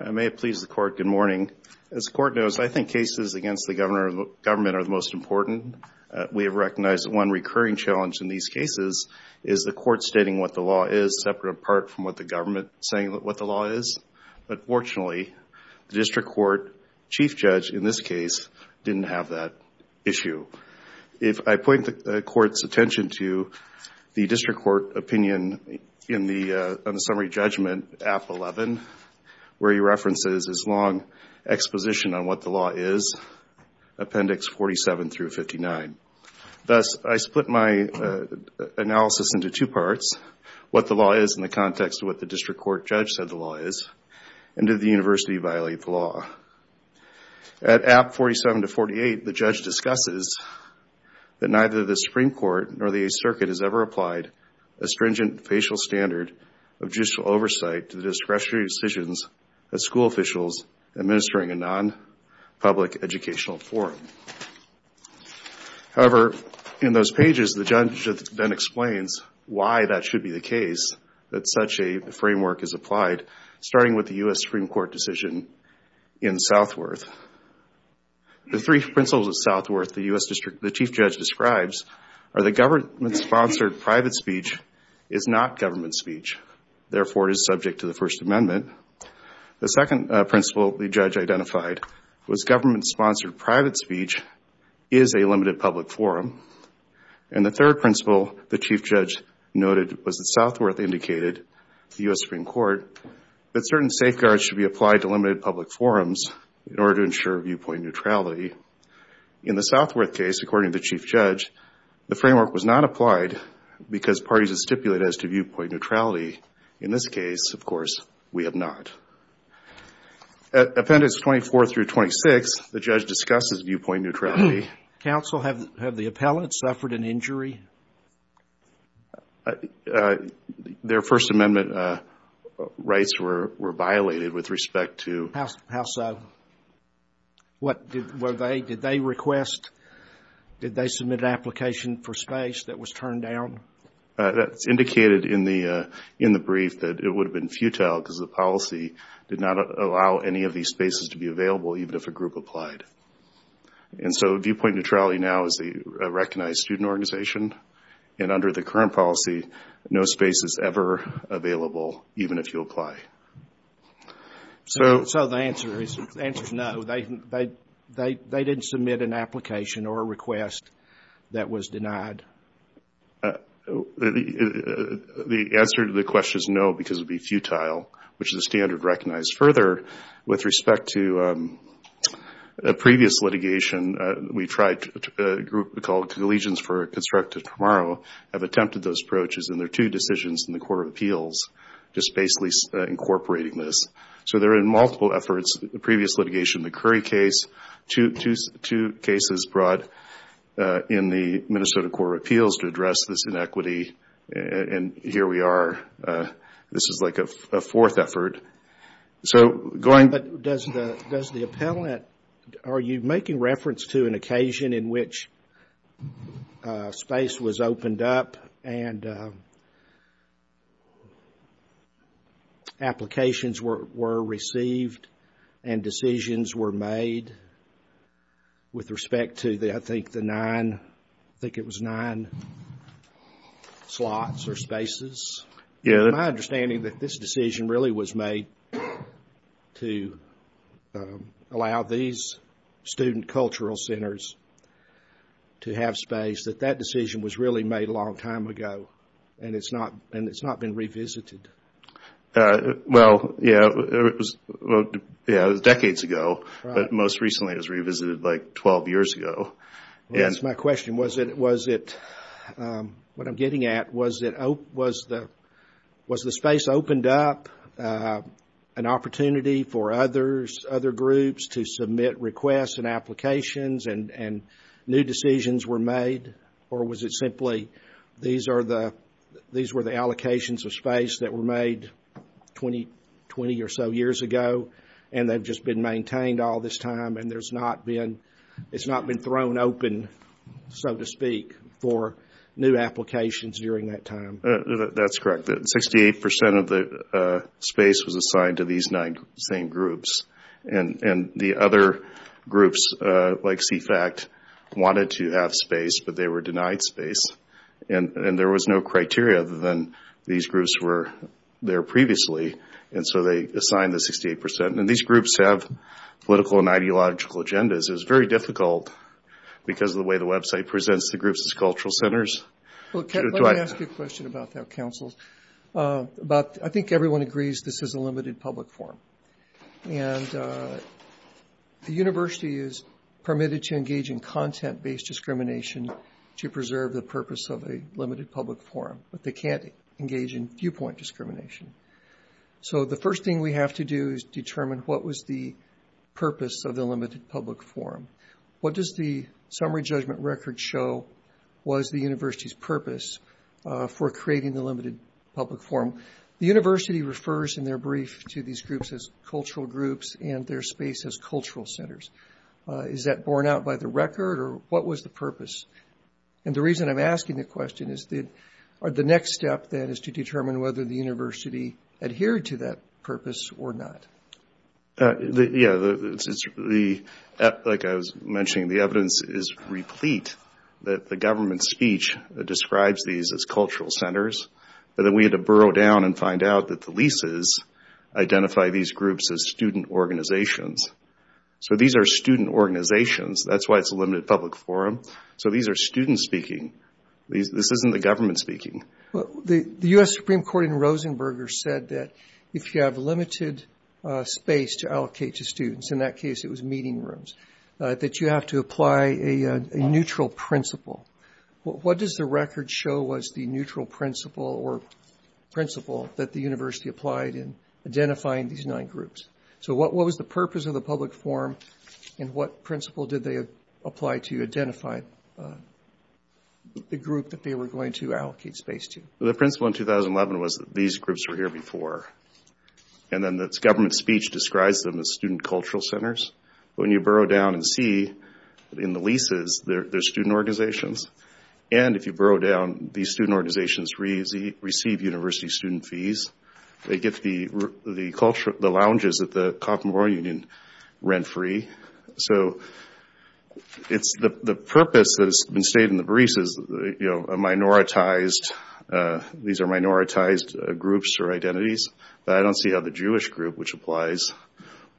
I may have pleased the court. Good morning. As the court knows, I think cases against the government are the most important. We have recognized that one recurring challenge in these cases is the court stating what the law is, separate, apart from what the government saying what the law is. But fortunately, the district court chief judge in this case didn't have that issue. If I point the court's attention to the district court opinion on the subject summary judgment, App. 11, where he references his long exposition on what the law is, Appendix 47-59. Thus, I split my analysis into two parts, what the law is in the context of what the district court judge said the law is, and did the university violate the law. At App. 47-48, the judge discusses that neither the Supreme Court nor the Eighth Circuit has ever applied a stringent facial standard of judicial oversight to the discretionary decisions of school officials administering a non-public educational forum. However, in those pages, the judge then explains why that should be the case, that such a framework is applied, starting with the U.S. Supreme Court decision in Southworth. The three principles of Southworth the chief judge describes are that government-sponsored private speech is not government speech. Therefore, it is subject to the First Amendment. The second principle the judge identified was government-sponsored private speech is a limited public forum. And the third principle the chief judge noted was that Southworth indicated to the U.S. Supreme Court that certain safeguards should be applied to limited public forums in order to ensure viewpoint neutrality. In the Southworth case, according to the chief judge, the framework was not applied because parties had stipulated as to viewpoint neutrality. In this case, of course, we have not. At Appendix 24-26, the judge discusses viewpoint neutrality. Counsel, have the appellants suffered an injury? Their First Amendment rights were violated with respect to... How so? Did they request, did they submit an application for space that was turned down? That's indicated in the brief that it would have been futile because the policy did not allow any of these spaces to be available even if a group applied. And so viewpoint neutrality now is a recognized student organization and under the current policy, no space is ever available even if you apply. So the answer is no. They didn't submit an application or a request that was denied. The answer to the question is no because it would be futile, which is a standard recognized further. With respect to a previous litigation, we tried a group called Collegians for a Constructive Tomorrow, have attempted those approaches and there are two decisions in the Court of Appeals just basically incorporating this. So there are multiple efforts, the previous litigation, the Curry case, two cases brought in the Minnesota Court of Appeals to address this inequity and here we are. This is like a fourth effort. So going... But does the appellant, are you making reference to an occasion in which space was opened up and applications were received and decisions were made with respect to I think the nine, I think it was nine slots or spaces? Yeah. My understanding that this decision really was made to allow these student cultural centers to have space, that that decision was really made a long time ago and it's not been revisited. Well, yeah, it was decades ago, but most recently it was revisited like 12 years ago. That's my opened up an opportunity for others, other groups to submit requests and applications and new decisions were made or was it simply these are the, these were the allocations of space that were made 20 or so years ago and they've just been maintained all this time and there's not been, it's not been thrown open, so to speak, for new applications during that time. That's correct. 68% of the space was assigned to these nine same groups and the other groups like CFACT wanted to have space, but they were denied space and there was no criteria other than these groups were there previously and so they assigned the 68% and these groups have political and ideological agendas. It was very difficult because of the way the website presents the groups as cultural centers. Let me ask you a question about that, Council. I think everyone agrees this is a limited public forum and the university is permitted to engage in content-based discrimination to preserve the purpose of a limited public forum, but they can't engage in viewpoint discrimination. So the first thing we have to do is determine what was the purpose of the limited public forum. What does the summary judgment record show was the university's purpose for creating the limited public forum? The university refers in their brief to these groups as cultural groups and their space as cultural centers. Is that borne out by the record or what was the purpose? And the reason I'm asking the question is that the next step then is to determine whether the university adhered to that purpose or not. Yeah, like I was mentioning the evidence is replete that the government speech describes these as cultural centers but then we had to burrow down and find out that the leases identify these groups as student organizations. So these are student organizations. That's why it's a limited public forum. So these are students speaking. This isn't the government speaking. The US Supreme Court in Rosenberger said that if you have limited space to allocate to students, in that case it was meeting rooms, that you have to apply a neutral principle. What does the record show was the neutral principle or principle that the university applied in identifying these nine groups? So what was the purpose of the public forum and what principle did they apply to identify the group that they were going to allocate space to? The principle in 2011 was that these groups were here before and then the government speech describes them as student cultural centers. When you burrow down and see in the leases they're student organizations and if you burrow down these student organizations receive university student fees. They get the lounges at the Commonwealth Union rent free. So it's the purpose that has been stated in the briefs is that these are minoritized groups or identities. I don't see how the Jewish group, which applies,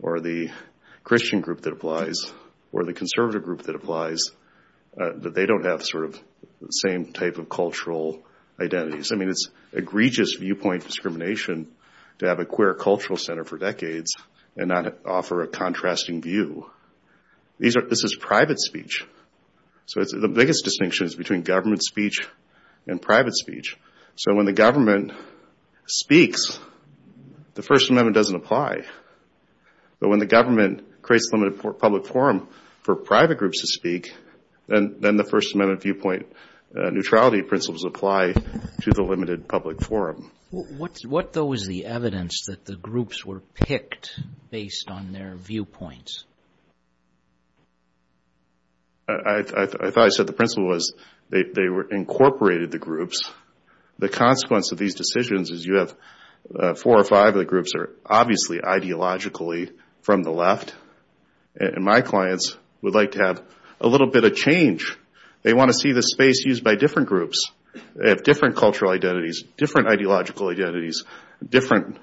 or the Christian group that applies, or the conservative group that applies, that they don't have sort of the same type of cultural identities. I mean it's egregious viewpoint discrimination to have a queer cultural center for decades and not offer a contrasting view. This is private speech. So the biggest distinction is between government speech and private speech. So when the government speaks the First Amendment doesn't apply. But when the government creates a limited public forum for private groups to speak then the First Amendment viewpoint neutrality principles apply to the limited public forum. What though is the evidence that the groups were picked based on their viewpoints? I thought I said the principle was they were incorporated the groups. The consequence of these decisions is you have four or five of the groups are obviously ideologically from the left. And my clients would like to have a little bit of change. They want to see the space used by different groups. They have different cultural identities, different ideological identities, different,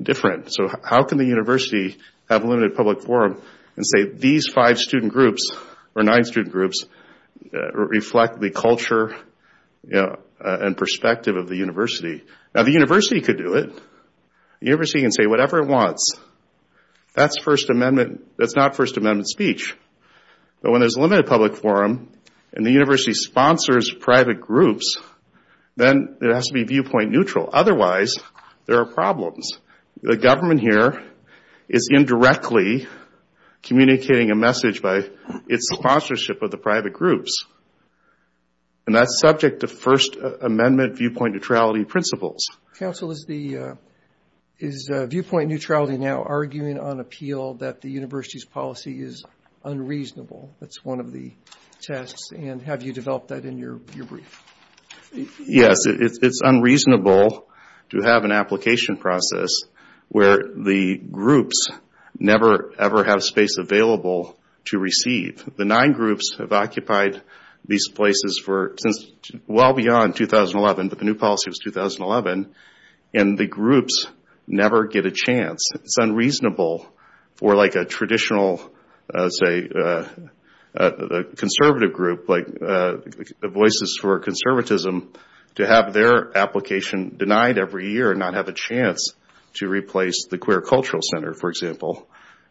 different. So how can the university have a limited public forum and say these five student groups, or nine student groups, reflect the culture and perspective of the university? Now the university could do it. The university can say whatever it wants. That's First Amendment, that's not First Amendment speech. But when there's a limited public forum and the university sponsors private groups, then it has to be viewpoint neutral. Otherwise there are problems. The government here is indirectly communicating a message by its sponsorship of the private groups. And that's subject to First Amendment viewpoint neutrality principles. Counsel is the, is viewpoint neutrality now arguing on appeal that the university's policy is unreasonable. That's one of the tests. And have you developed that in your brief? Yes. It's unreasonable to have an application process where the groups never, ever have space available to receive. The nine groups have occupied these places for, since well beyond 2011, but the new policy was 2011. And the groups never get a chance. It's unreasonable for like a traditional, say, conservative group, like Voices for Conservatism, to have their application denied every year and not have a chance to replace the Queer Cultural Center, for example.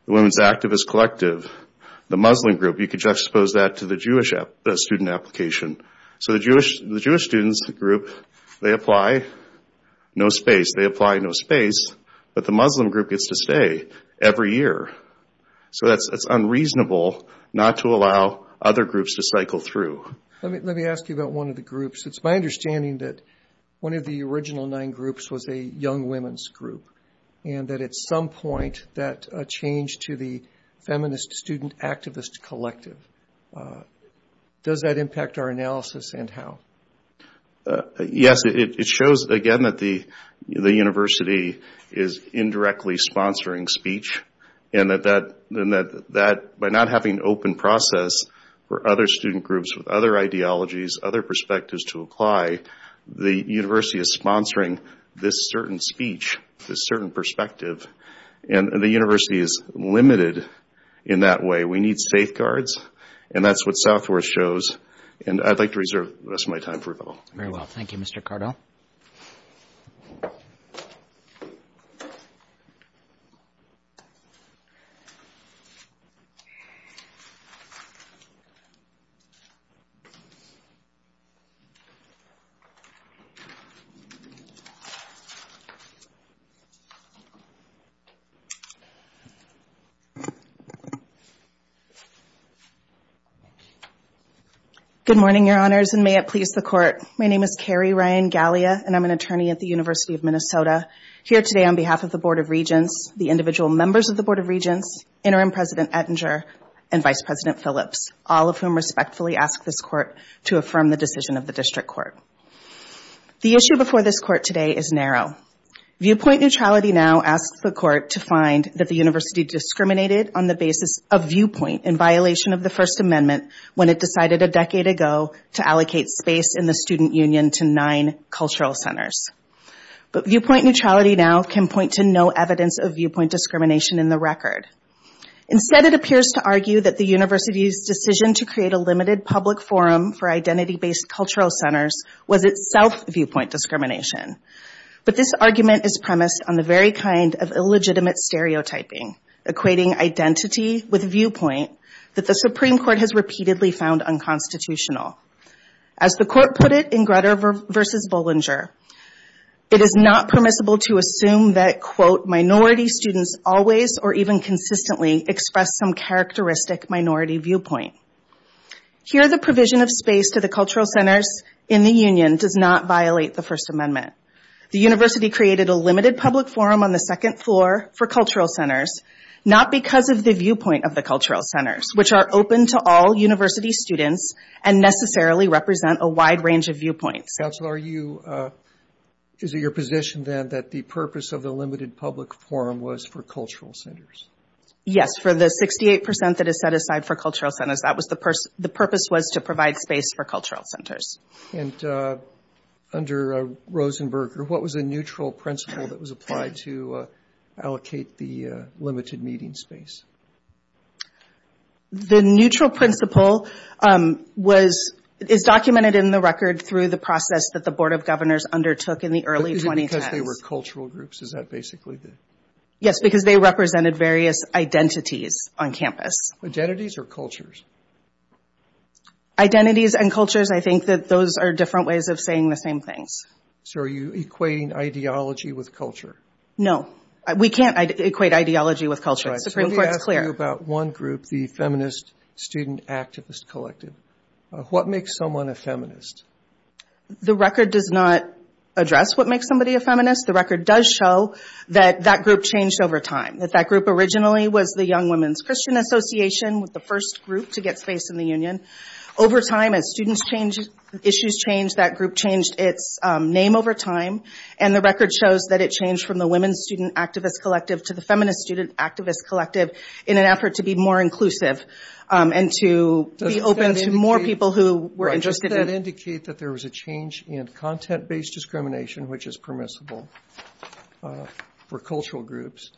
The Women's Activist Collective, the Muslim group, you could juxtapose that to the Jewish student application. So the Jewish students group, they apply, no space, but the Muslim group gets to stay every year. So that's unreasonable not to allow other groups to cycle through. Let me ask you about one of the groups. It's my understanding that one of the original nine groups was a young women's group and that at some point that changed to the Feminist Student Activist Collective. Does that impact our analysis and how? Yes, it shows again that the university is indirectly sponsoring speech and that by not having an open process for other student groups with other ideologies, other perspectives to apply, the university is sponsoring this certain speech, this certain perspective, and the university is limited in that way. We need safeguards and that's what South Africa is doing. Very well. Thank you, Mr. Cardell. Good morning, Your Honors, and may it please the Court. My name is Kari Ryan-Galley. I'm an attorney at the University of Minnesota here today on behalf of the Board of Regents, the individual members of the Board of Regents, Interim President Ettinger, and Vice President Phillips, all of whom respectfully ask this Court to affirm the decision of the District Court. The issue before this Court today is narrow. Viewpoint neutrality now asks the Court to find that the university discriminated on the basis of viewpoint in violation of the First Amendment when it decided a decade ago to allocate space in the student union to nine cultural centers. But viewpoint neutrality now can point to no evidence of viewpoint discrimination in the record. Instead, it appears to argue that the university's decision to create a limited public forum for identity-based cultural centers was itself viewpoint discrimination. But this argument is premised on the very kind of illegitimate stereotyping, equating identity with viewpoint, that the Supreme Court has repeatedly found unconstitutional. As the Court put it in Grutter v. Bollinger, it is not permissible to assume that, quote, minority students always or even consistently express some characteristic minority viewpoint. Here the provision of space to the cultural centers in the union does not violate the First Amendment. The university created a limited public forum on the second floor for cultural centers not because of the viewpoint of the cultural centers, which are open to all university students and necessarily represent a wide range of viewpoints. Counselor, are you, is it your position then that the purpose of the limited public forum was for cultural centers? Yes, for the 68 percent that is set aside for cultural centers, that was the purpose was to provide space for cultural centers. And under Rosenberger, what was the neutral principle that was applied to allocate the limited meeting space? The neutral principle was, is documented in the record through the process that the Board of Governors undertook in the early 2010s. Is it because they were cultural groups? Is that basically the... Yes, because they represented various identities on campus. Identities or cultures? Identities and cultures, I think that those are different ways of saying the same things. So are you equating ideology with culture? No. We can't equate ideology with culture. Right, so let me ask you about one group, the Feminist Student Activist Collective. What makes someone a feminist? The record does not address what makes somebody a feminist. The record does show that that group changed over time. That that group originally was the Young Women's Christian Association with the first group to get space in the union. Over time, as students changed, issues changed, that group changed its name over time. And the record shows that it changed from the Feminist Student Activist Collective in an effort to be more inclusive and to be open to more people who were interested in... Does that indicate that there was a change in content-based discrimination, which is permissible for cultural groups,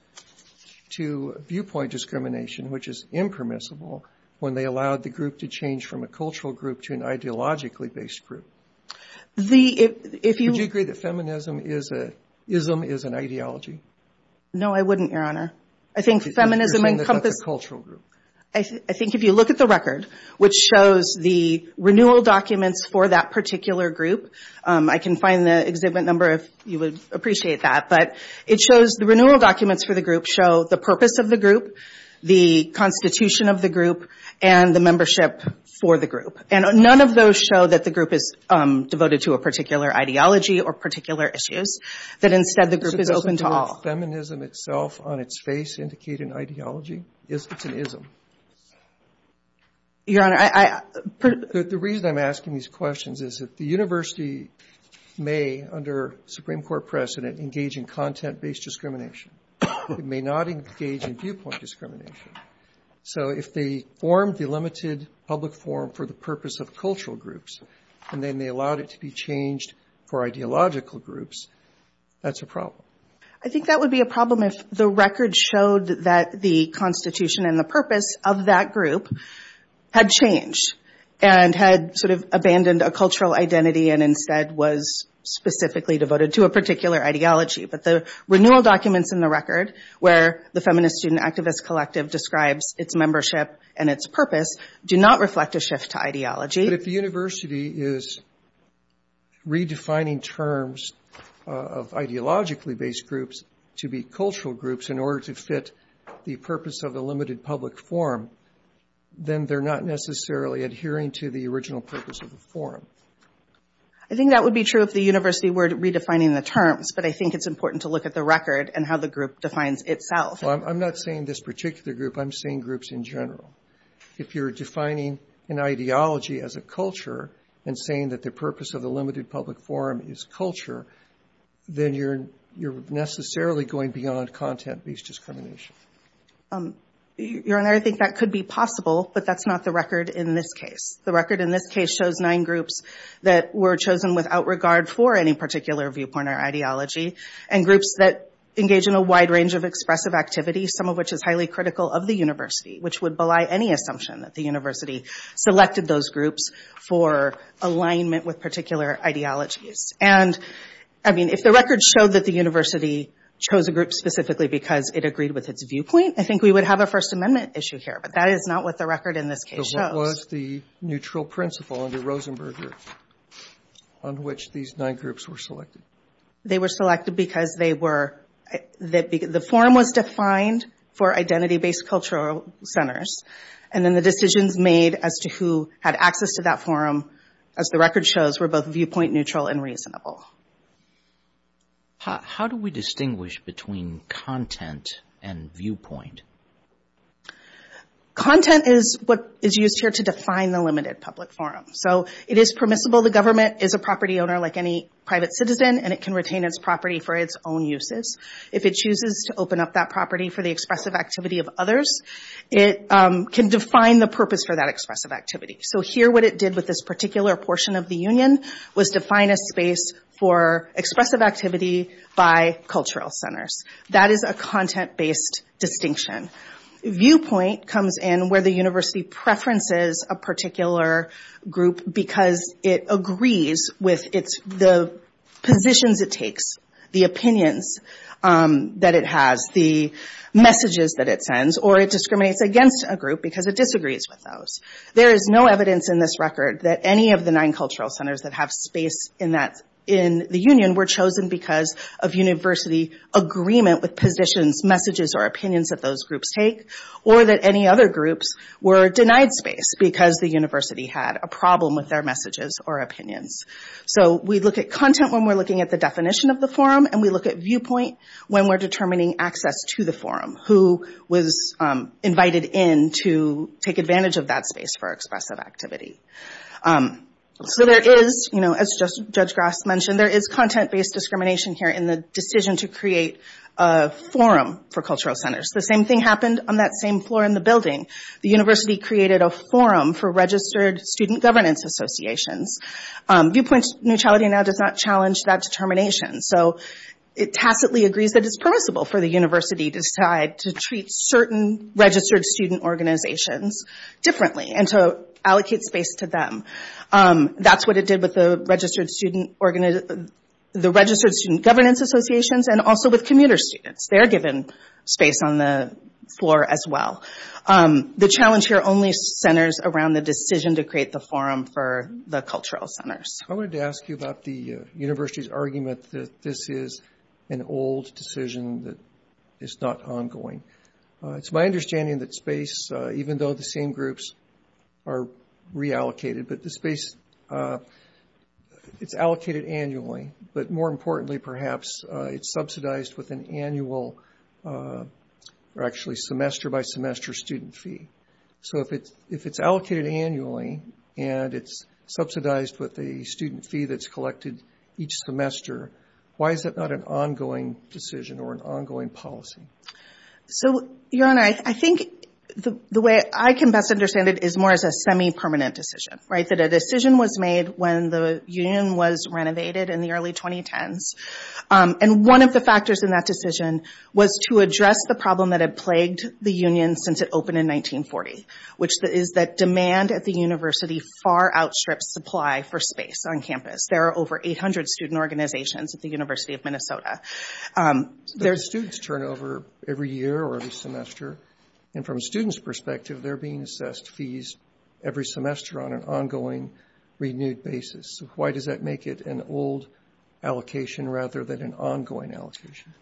to viewpoint discrimination, which is impermissible when they allowed the group to change from a cultural group to an ideologically-based group? The, if you... Would you agree that feminism is a, ism is an ideology? No, I wouldn't, Your Honor. I think feminism encompasses... You think that that's a cultural group? I think if you look at the record, which shows the renewal documents for that particular group, I can find the exhibit number if you would appreciate that, but it shows the renewal documents for the group show the purpose of the group, the constitution of the group, and the membership for the group. And none of those show that the group is devoted to a particular ideology or particular issues, that instead the group is open to all. Does feminism itself on its face indicate an ideology? Is it an ism? Your Honor, I... The reason I'm asking these questions is that the university may, under Supreme Court precedent, engage in content-based discrimination. It may not engage in viewpoint discrimination. So if they formed the limited public forum for the purpose of cultural groups, and then they allowed it to be changed for ideological groups, that's a problem. I think that would be a problem if the record showed that the constitution and the purpose of that group had changed, and had sort of abandoned a cultural identity, and instead was specifically devoted to a particular ideology. But the renewal documents in the record, where the Feminist Student Activist Collective describes its membership and its purpose, do not reflect a shift to ideology. But if the university is redefining terms of ideologically-based groups to be cultural groups in order to fit the purpose of the limited public forum, then they're not necessarily adhering to the original purpose of the forum. I think that would be true if the university were redefining the terms, but I think it's important to look at the record and how the group defines itself. Well, I'm not saying this particular group. I'm saying groups in general. If you're defining an ideology as a culture, and saying that the purpose of the limited public forum is culture, then you're necessarily going beyond content-based discrimination. Your Honor, I think that could be possible, but that's not the record in this case. The record in this case shows nine groups that were chosen without regard for any particular viewpoint or ideology, and groups that engage in a wide range of expressive activity, some of which is highly critical of the university, which would belie any assumption that the university selected those groups for alignment with particular ideologies. If the record showed that the university chose a group specifically because it agreed with its viewpoint, I think we would have a First Amendment issue here, but that is not what the record in this case shows. So what was the neutral principle under Rosenberger on which these nine groups were selected? They were selected because the forum was defined for identity-based cultural centers, and then the decisions made as to who had access to that forum, as the record shows, were both viewpoint-neutral and reasonable. How do we distinguish between content and viewpoint? Content is what is used here to define the limited public forum. It is permissible the government is a property owner like any private citizen, and it can retain its property for its own uses. If it chooses to open up that property for the expressive activity of others, it can define the purpose for that expressive activity. So here what it did with this particular portion of the union was define a space for expressive activity by cultural centers. That is a content-based distinction. Viewpoint comes in where the university preferences a particular group because it agrees with the positions it takes, the opinions that it has, the messages that it sends, or it discriminates against a group because it disagrees with those. There is no evidence in this record that any of the nine cultural centers that have space in the union were chosen because of university agreement with positions, messages, or opinions that those groups take, or that any other groups were denied space because the university had a problem with their messages or opinions. So we look at content when we're looking at the definition of the forum, and we look at invited in to take advantage of that space for expressive activity. As Judge Grass mentioned, there is content-based discrimination here in the decision to create a forum for cultural centers. The same thing happened on that same floor in the building. The university created a forum for registered student governance associations. Viewpoint neutrality now does not challenge that determination, so it tacitly agrees that it is permissible for the university to decide to treat certain registered student organizations differently and to allocate space to them. That's what it did with the registered student governance associations and also with commuter students. They are given space on the floor as well. The challenge here only centers around the decision to create the forum for the cultural centers. I wanted to ask you about the university's argument that this is an old decision that is not ongoing. It's my understanding that space, even though the same groups are reallocated, the space is allocated annually, but more importantly, perhaps, it's subsidized with an annual, or actually semester-by-semester student fee. So if it's allocated annually and it's subsidized with a student fee that's collected each semester, why is that not an ongoing decision or an ongoing policy? Your Honor, I think the way I can best understand it is more as a semi-permanent decision. A decision was made when the union was renovated in the early 2010s. One of the factors in that decision was to address the problem that had plagued the union since it opened in 1940, which is that demand at the university far outstrips supply for space on campus. There are over 800 student organizations at the University of Minnesota. There's student turnover every year or every semester, and from a student's perspective, they're being assessed fees every semester on an ongoing, renewed basis. Why does that make it an old allocation rather than an ongoing allocation?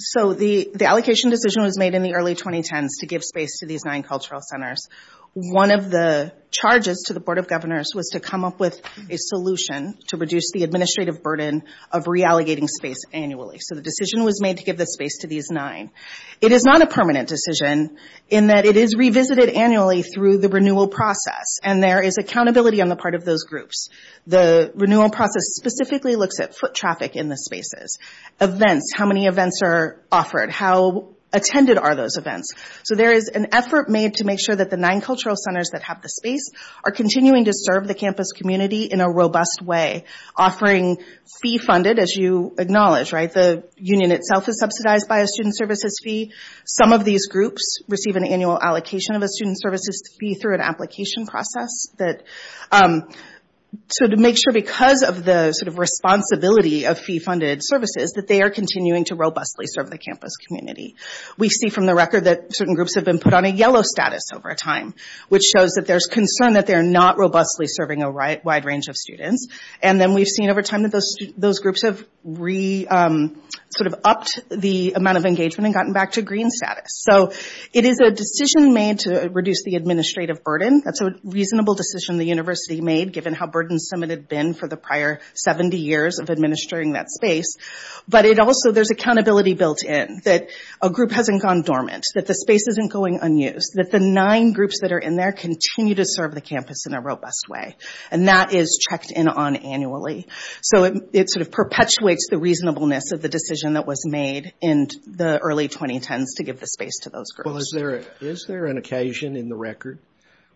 So the allocation decision was made in the early 2010s to give space to these nine cultural centers. One of the charges to the Board of Governors was to come up with a solution to reduce the administrative burden of reallocating space annually. So the decision was made to give the space to these nine. It is not a permanent decision in that it is revisited annually through the renewal process, and there is accountability on the part of those groups. The renewal process specifically looks at foot traffic in the spaces, events, how many events are offered, how attended are those events. So there is an effort made to make sure that the nine cultural centers that have the space are continuing to serve the campus community in a robust way, offering fee-funded, as you acknowledge. The union itself is subsidized by a student services fee. Some of these groups receive an annual allocation of a student services fee through an application process. So to make sure, because of the responsibility of fee-funded services, that they are continuing to robustly serve the campus community. We see from the record that certain groups have been put on a yellow status over time, which shows that there is concern that they are not robustly serving a wide range of students. And then we have seen over time that those groups have re-upped the amount of engagement and gotten back to green status. So it is a decision made to reduce the administrative burden. That's a reasonable decision the university made, given how burdensome it had been for the prior 70 years of administering that space. But also there is accountability built in that a group hasn't gone dormant, that the space isn't going unused, that the nine groups that are in there continue to serve the campus in a robust way. And that is checked in on annually. So it sort of perpetuates the reasonableness of the decision that was made in the early 2010s to give the space to those groups. Well, is there an occasion in the record,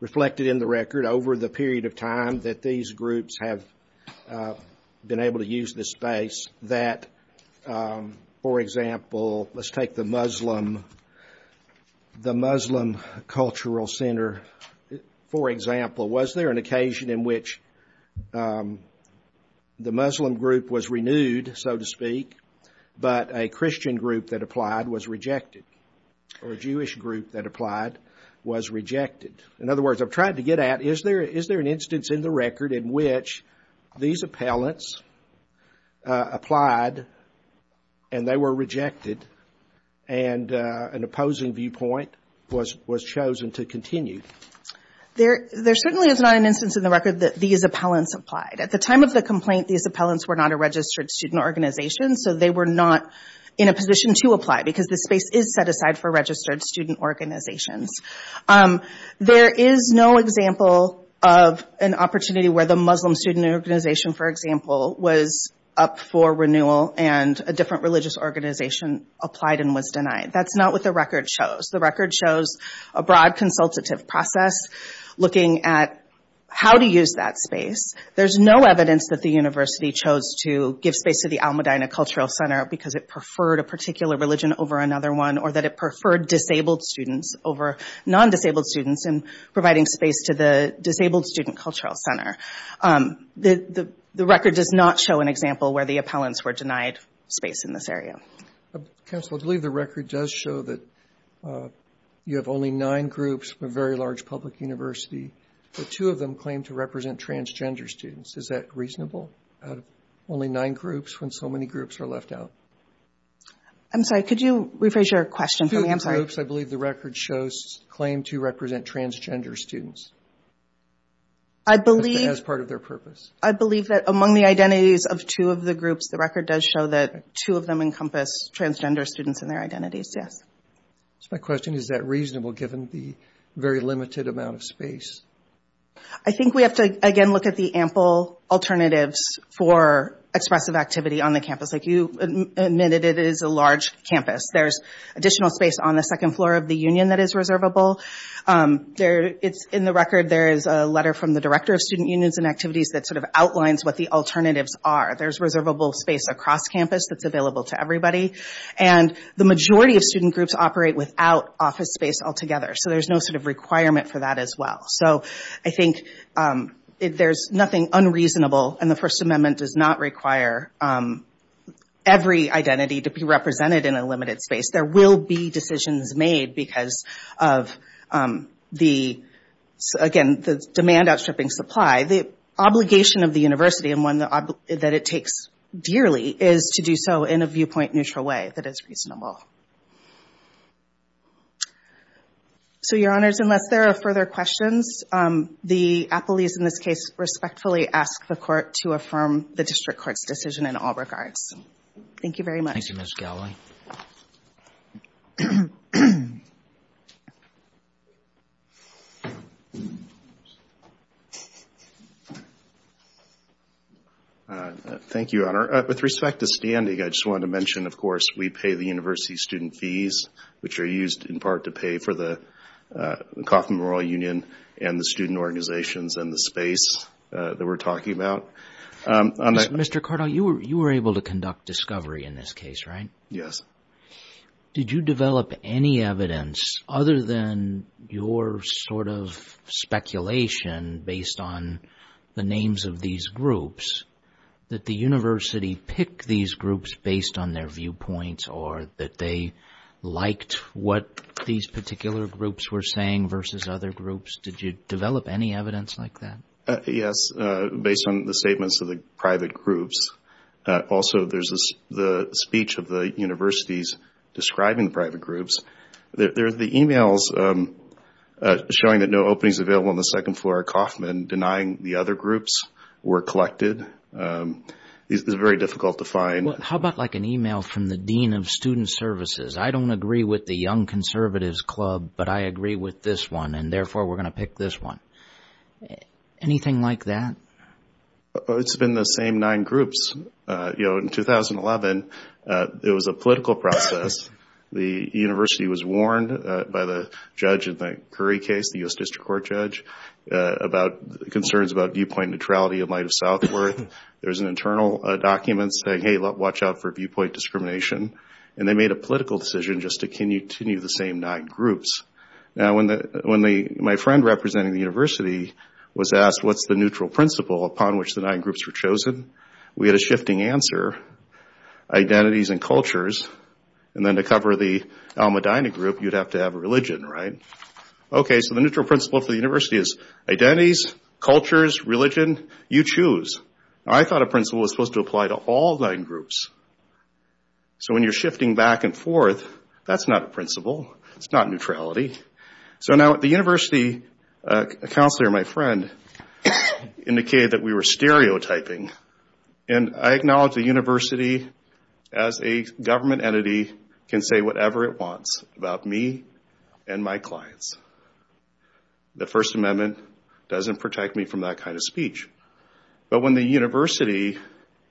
reflected in the record, over the period of time that these groups have been able to use this space that, for example, let's take the Muslim Cultural Center, for example, was there an occasion in which the Muslim group was rejected or a Jewish group that applied was rejected? In other words, I've tried to get at is there an instance in the record in which these appellants applied and they were rejected and an opposing viewpoint was chosen to continue? There certainly is not an instance in the record that these appellants applied. At the time of the complaint, these appellants were not a registered student organization. So they were not in a position to apply because the space is set aside for registered student organizations. There is no example of an opportunity where the Muslim student organization, for example, was up for renewal and a different religious organization applied and was denied. That's not what the record shows. The record shows a broad consultative process looking at how to use that space. There's no evidence that the university chose to give space to the Almudena Cultural Center because it preferred a particular religion over another one or that it preferred disabled students over non-disabled students in providing space to the Disabled Student Cultural Center. The record does not show an example where the appellants were denied space in this area. Counsel, I believe the record does show that you have only nine groups from a very large public university, but two of them claim to represent transgender students. Is that reasonable? Only nine groups when so many groups are left out? I'm sorry, could you rephrase your question for me? Two groups, I believe the record shows, claim to represent transgender students as part of their purpose. I believe that among the identities of two of the groups, the record does show that two of them encompass transgender students and their identities, yes. So my question is, is that reasonable given the very limited amount of space? I think we have to, again, look at the ample alternatives for expressive activity on the campus. Like you admitted, it is a large campus. There's additional space on the second floor of the union that is reservable. In the record, there is a letter from the Director of Student Unions and Activities that sort of outlines what the alternatives are. There's reservable space across campus that's available to everybody. And the majority of student groups operate without office space altogether. So there's no sort of requirement for that as well. So I think there's nothing unreasonable, and the First Amendment does not require every identity to be represented in a limited space. There will be decisions made because of, again, the demand outstripping supply. The obligation of the university, and one that it takes dearly, is to do so in a viewpoint-neutral way that is reasonable. So Your Honors, unless there are further questions, the appellees in this case respectfully ask the Court to affirm the District Court's decision in all regards. Thank you very much. Thank you, Ms. Galloway. Thank you, Your Honor. With respect to standing, I just wanted to mention, of course, we pay the university student fees, which are used in part to pay for the Kauffman Memorial Union and the student organizations and the space that we're talking about. Mr. Cardell, you were able to conduct discovery in this case, right? Yes. Did you develop any evidence, other than your sort of speculation based on the names of these groups, that the university picked these groups based on their viewpoints or that they liked what these particular groups were saying versus other groups? Did you develop any evidence like that? Yes, based on the statements of the private groups. Also, there's the speech of the universities describing the private groups. There are the emails showing that no openings available on the second floor are Kauffman, denying the other groups were collected. It's very difficult to find. How about like an email from the Dean of Student Services? I don't agree with the Young Conservatives Club, but I agree with this one, and therefore, we're going to pick this one. Anything like that? It's been the same nine groups. In 2011, it was a political process. The university was warned by the judge in the Curry case, the U.S. District Court judge, about concerns about viewpoint neutrality in light of Southworth. There was an internal document saying, hey, watch out for viewpoint discrimination. They made a political decision just to continue the same nine groups. My friend representing the university was asked, what's the neutral principle upon which the nine groups were chosen? We had a shifting answer, identities and cultures, and then to cover the Almadina group, you'd have to have a religion, right? Okay, so the neutral principle for the university is identities, cultures, religion, you choose. I thought a principle was supposed to apply to all nine groups. So when you're shifting back and forth, that's not a principle. It's not neutrality. So now at the university, a counselor, my friend, indicated that we were stereotyping, and I acknowledge the university as a government entity can say whatever it wants about me and my clients. The First Amendment doesn't protect me from that kind of speech, but when a university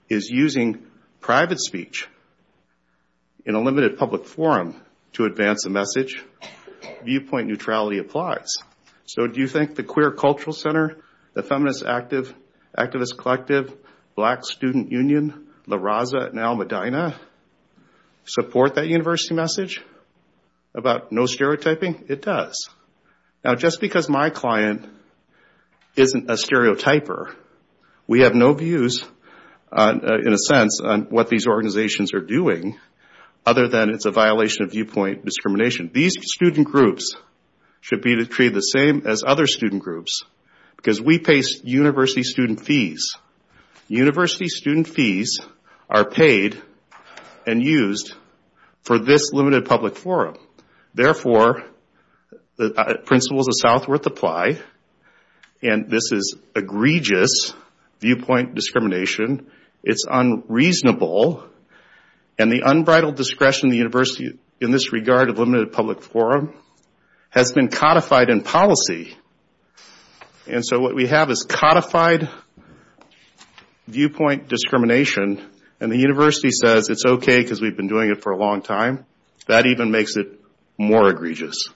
is using private speech in a limited public forum to advance a message, viewpoint neutrality applies. So do you think the Queer Cultural Center, the Feminist Activist Collective, Black Student Union, La Raza, and Almadina support that university message about no stereotyping? It does. Now just because my client isn't a stereotyper, we have no views, in a sense, on what these organizations are doing other than it's a violation of viewpoint discrimination. These student groups should be treated the same as other student groups because we pay university student fees. University student fees are paid and used for this limited public forum. Therefore, principles of Southworth apply, and this is egregious viewpoint discrimination. It's unreasonable, and the unbridled discretion of the university in this regard of limited public forum has been codified in policy. And so what we have is codified viewpoint discrimination, and the university says it's okay because we've been doing it for a long time. That even makes it more egregious.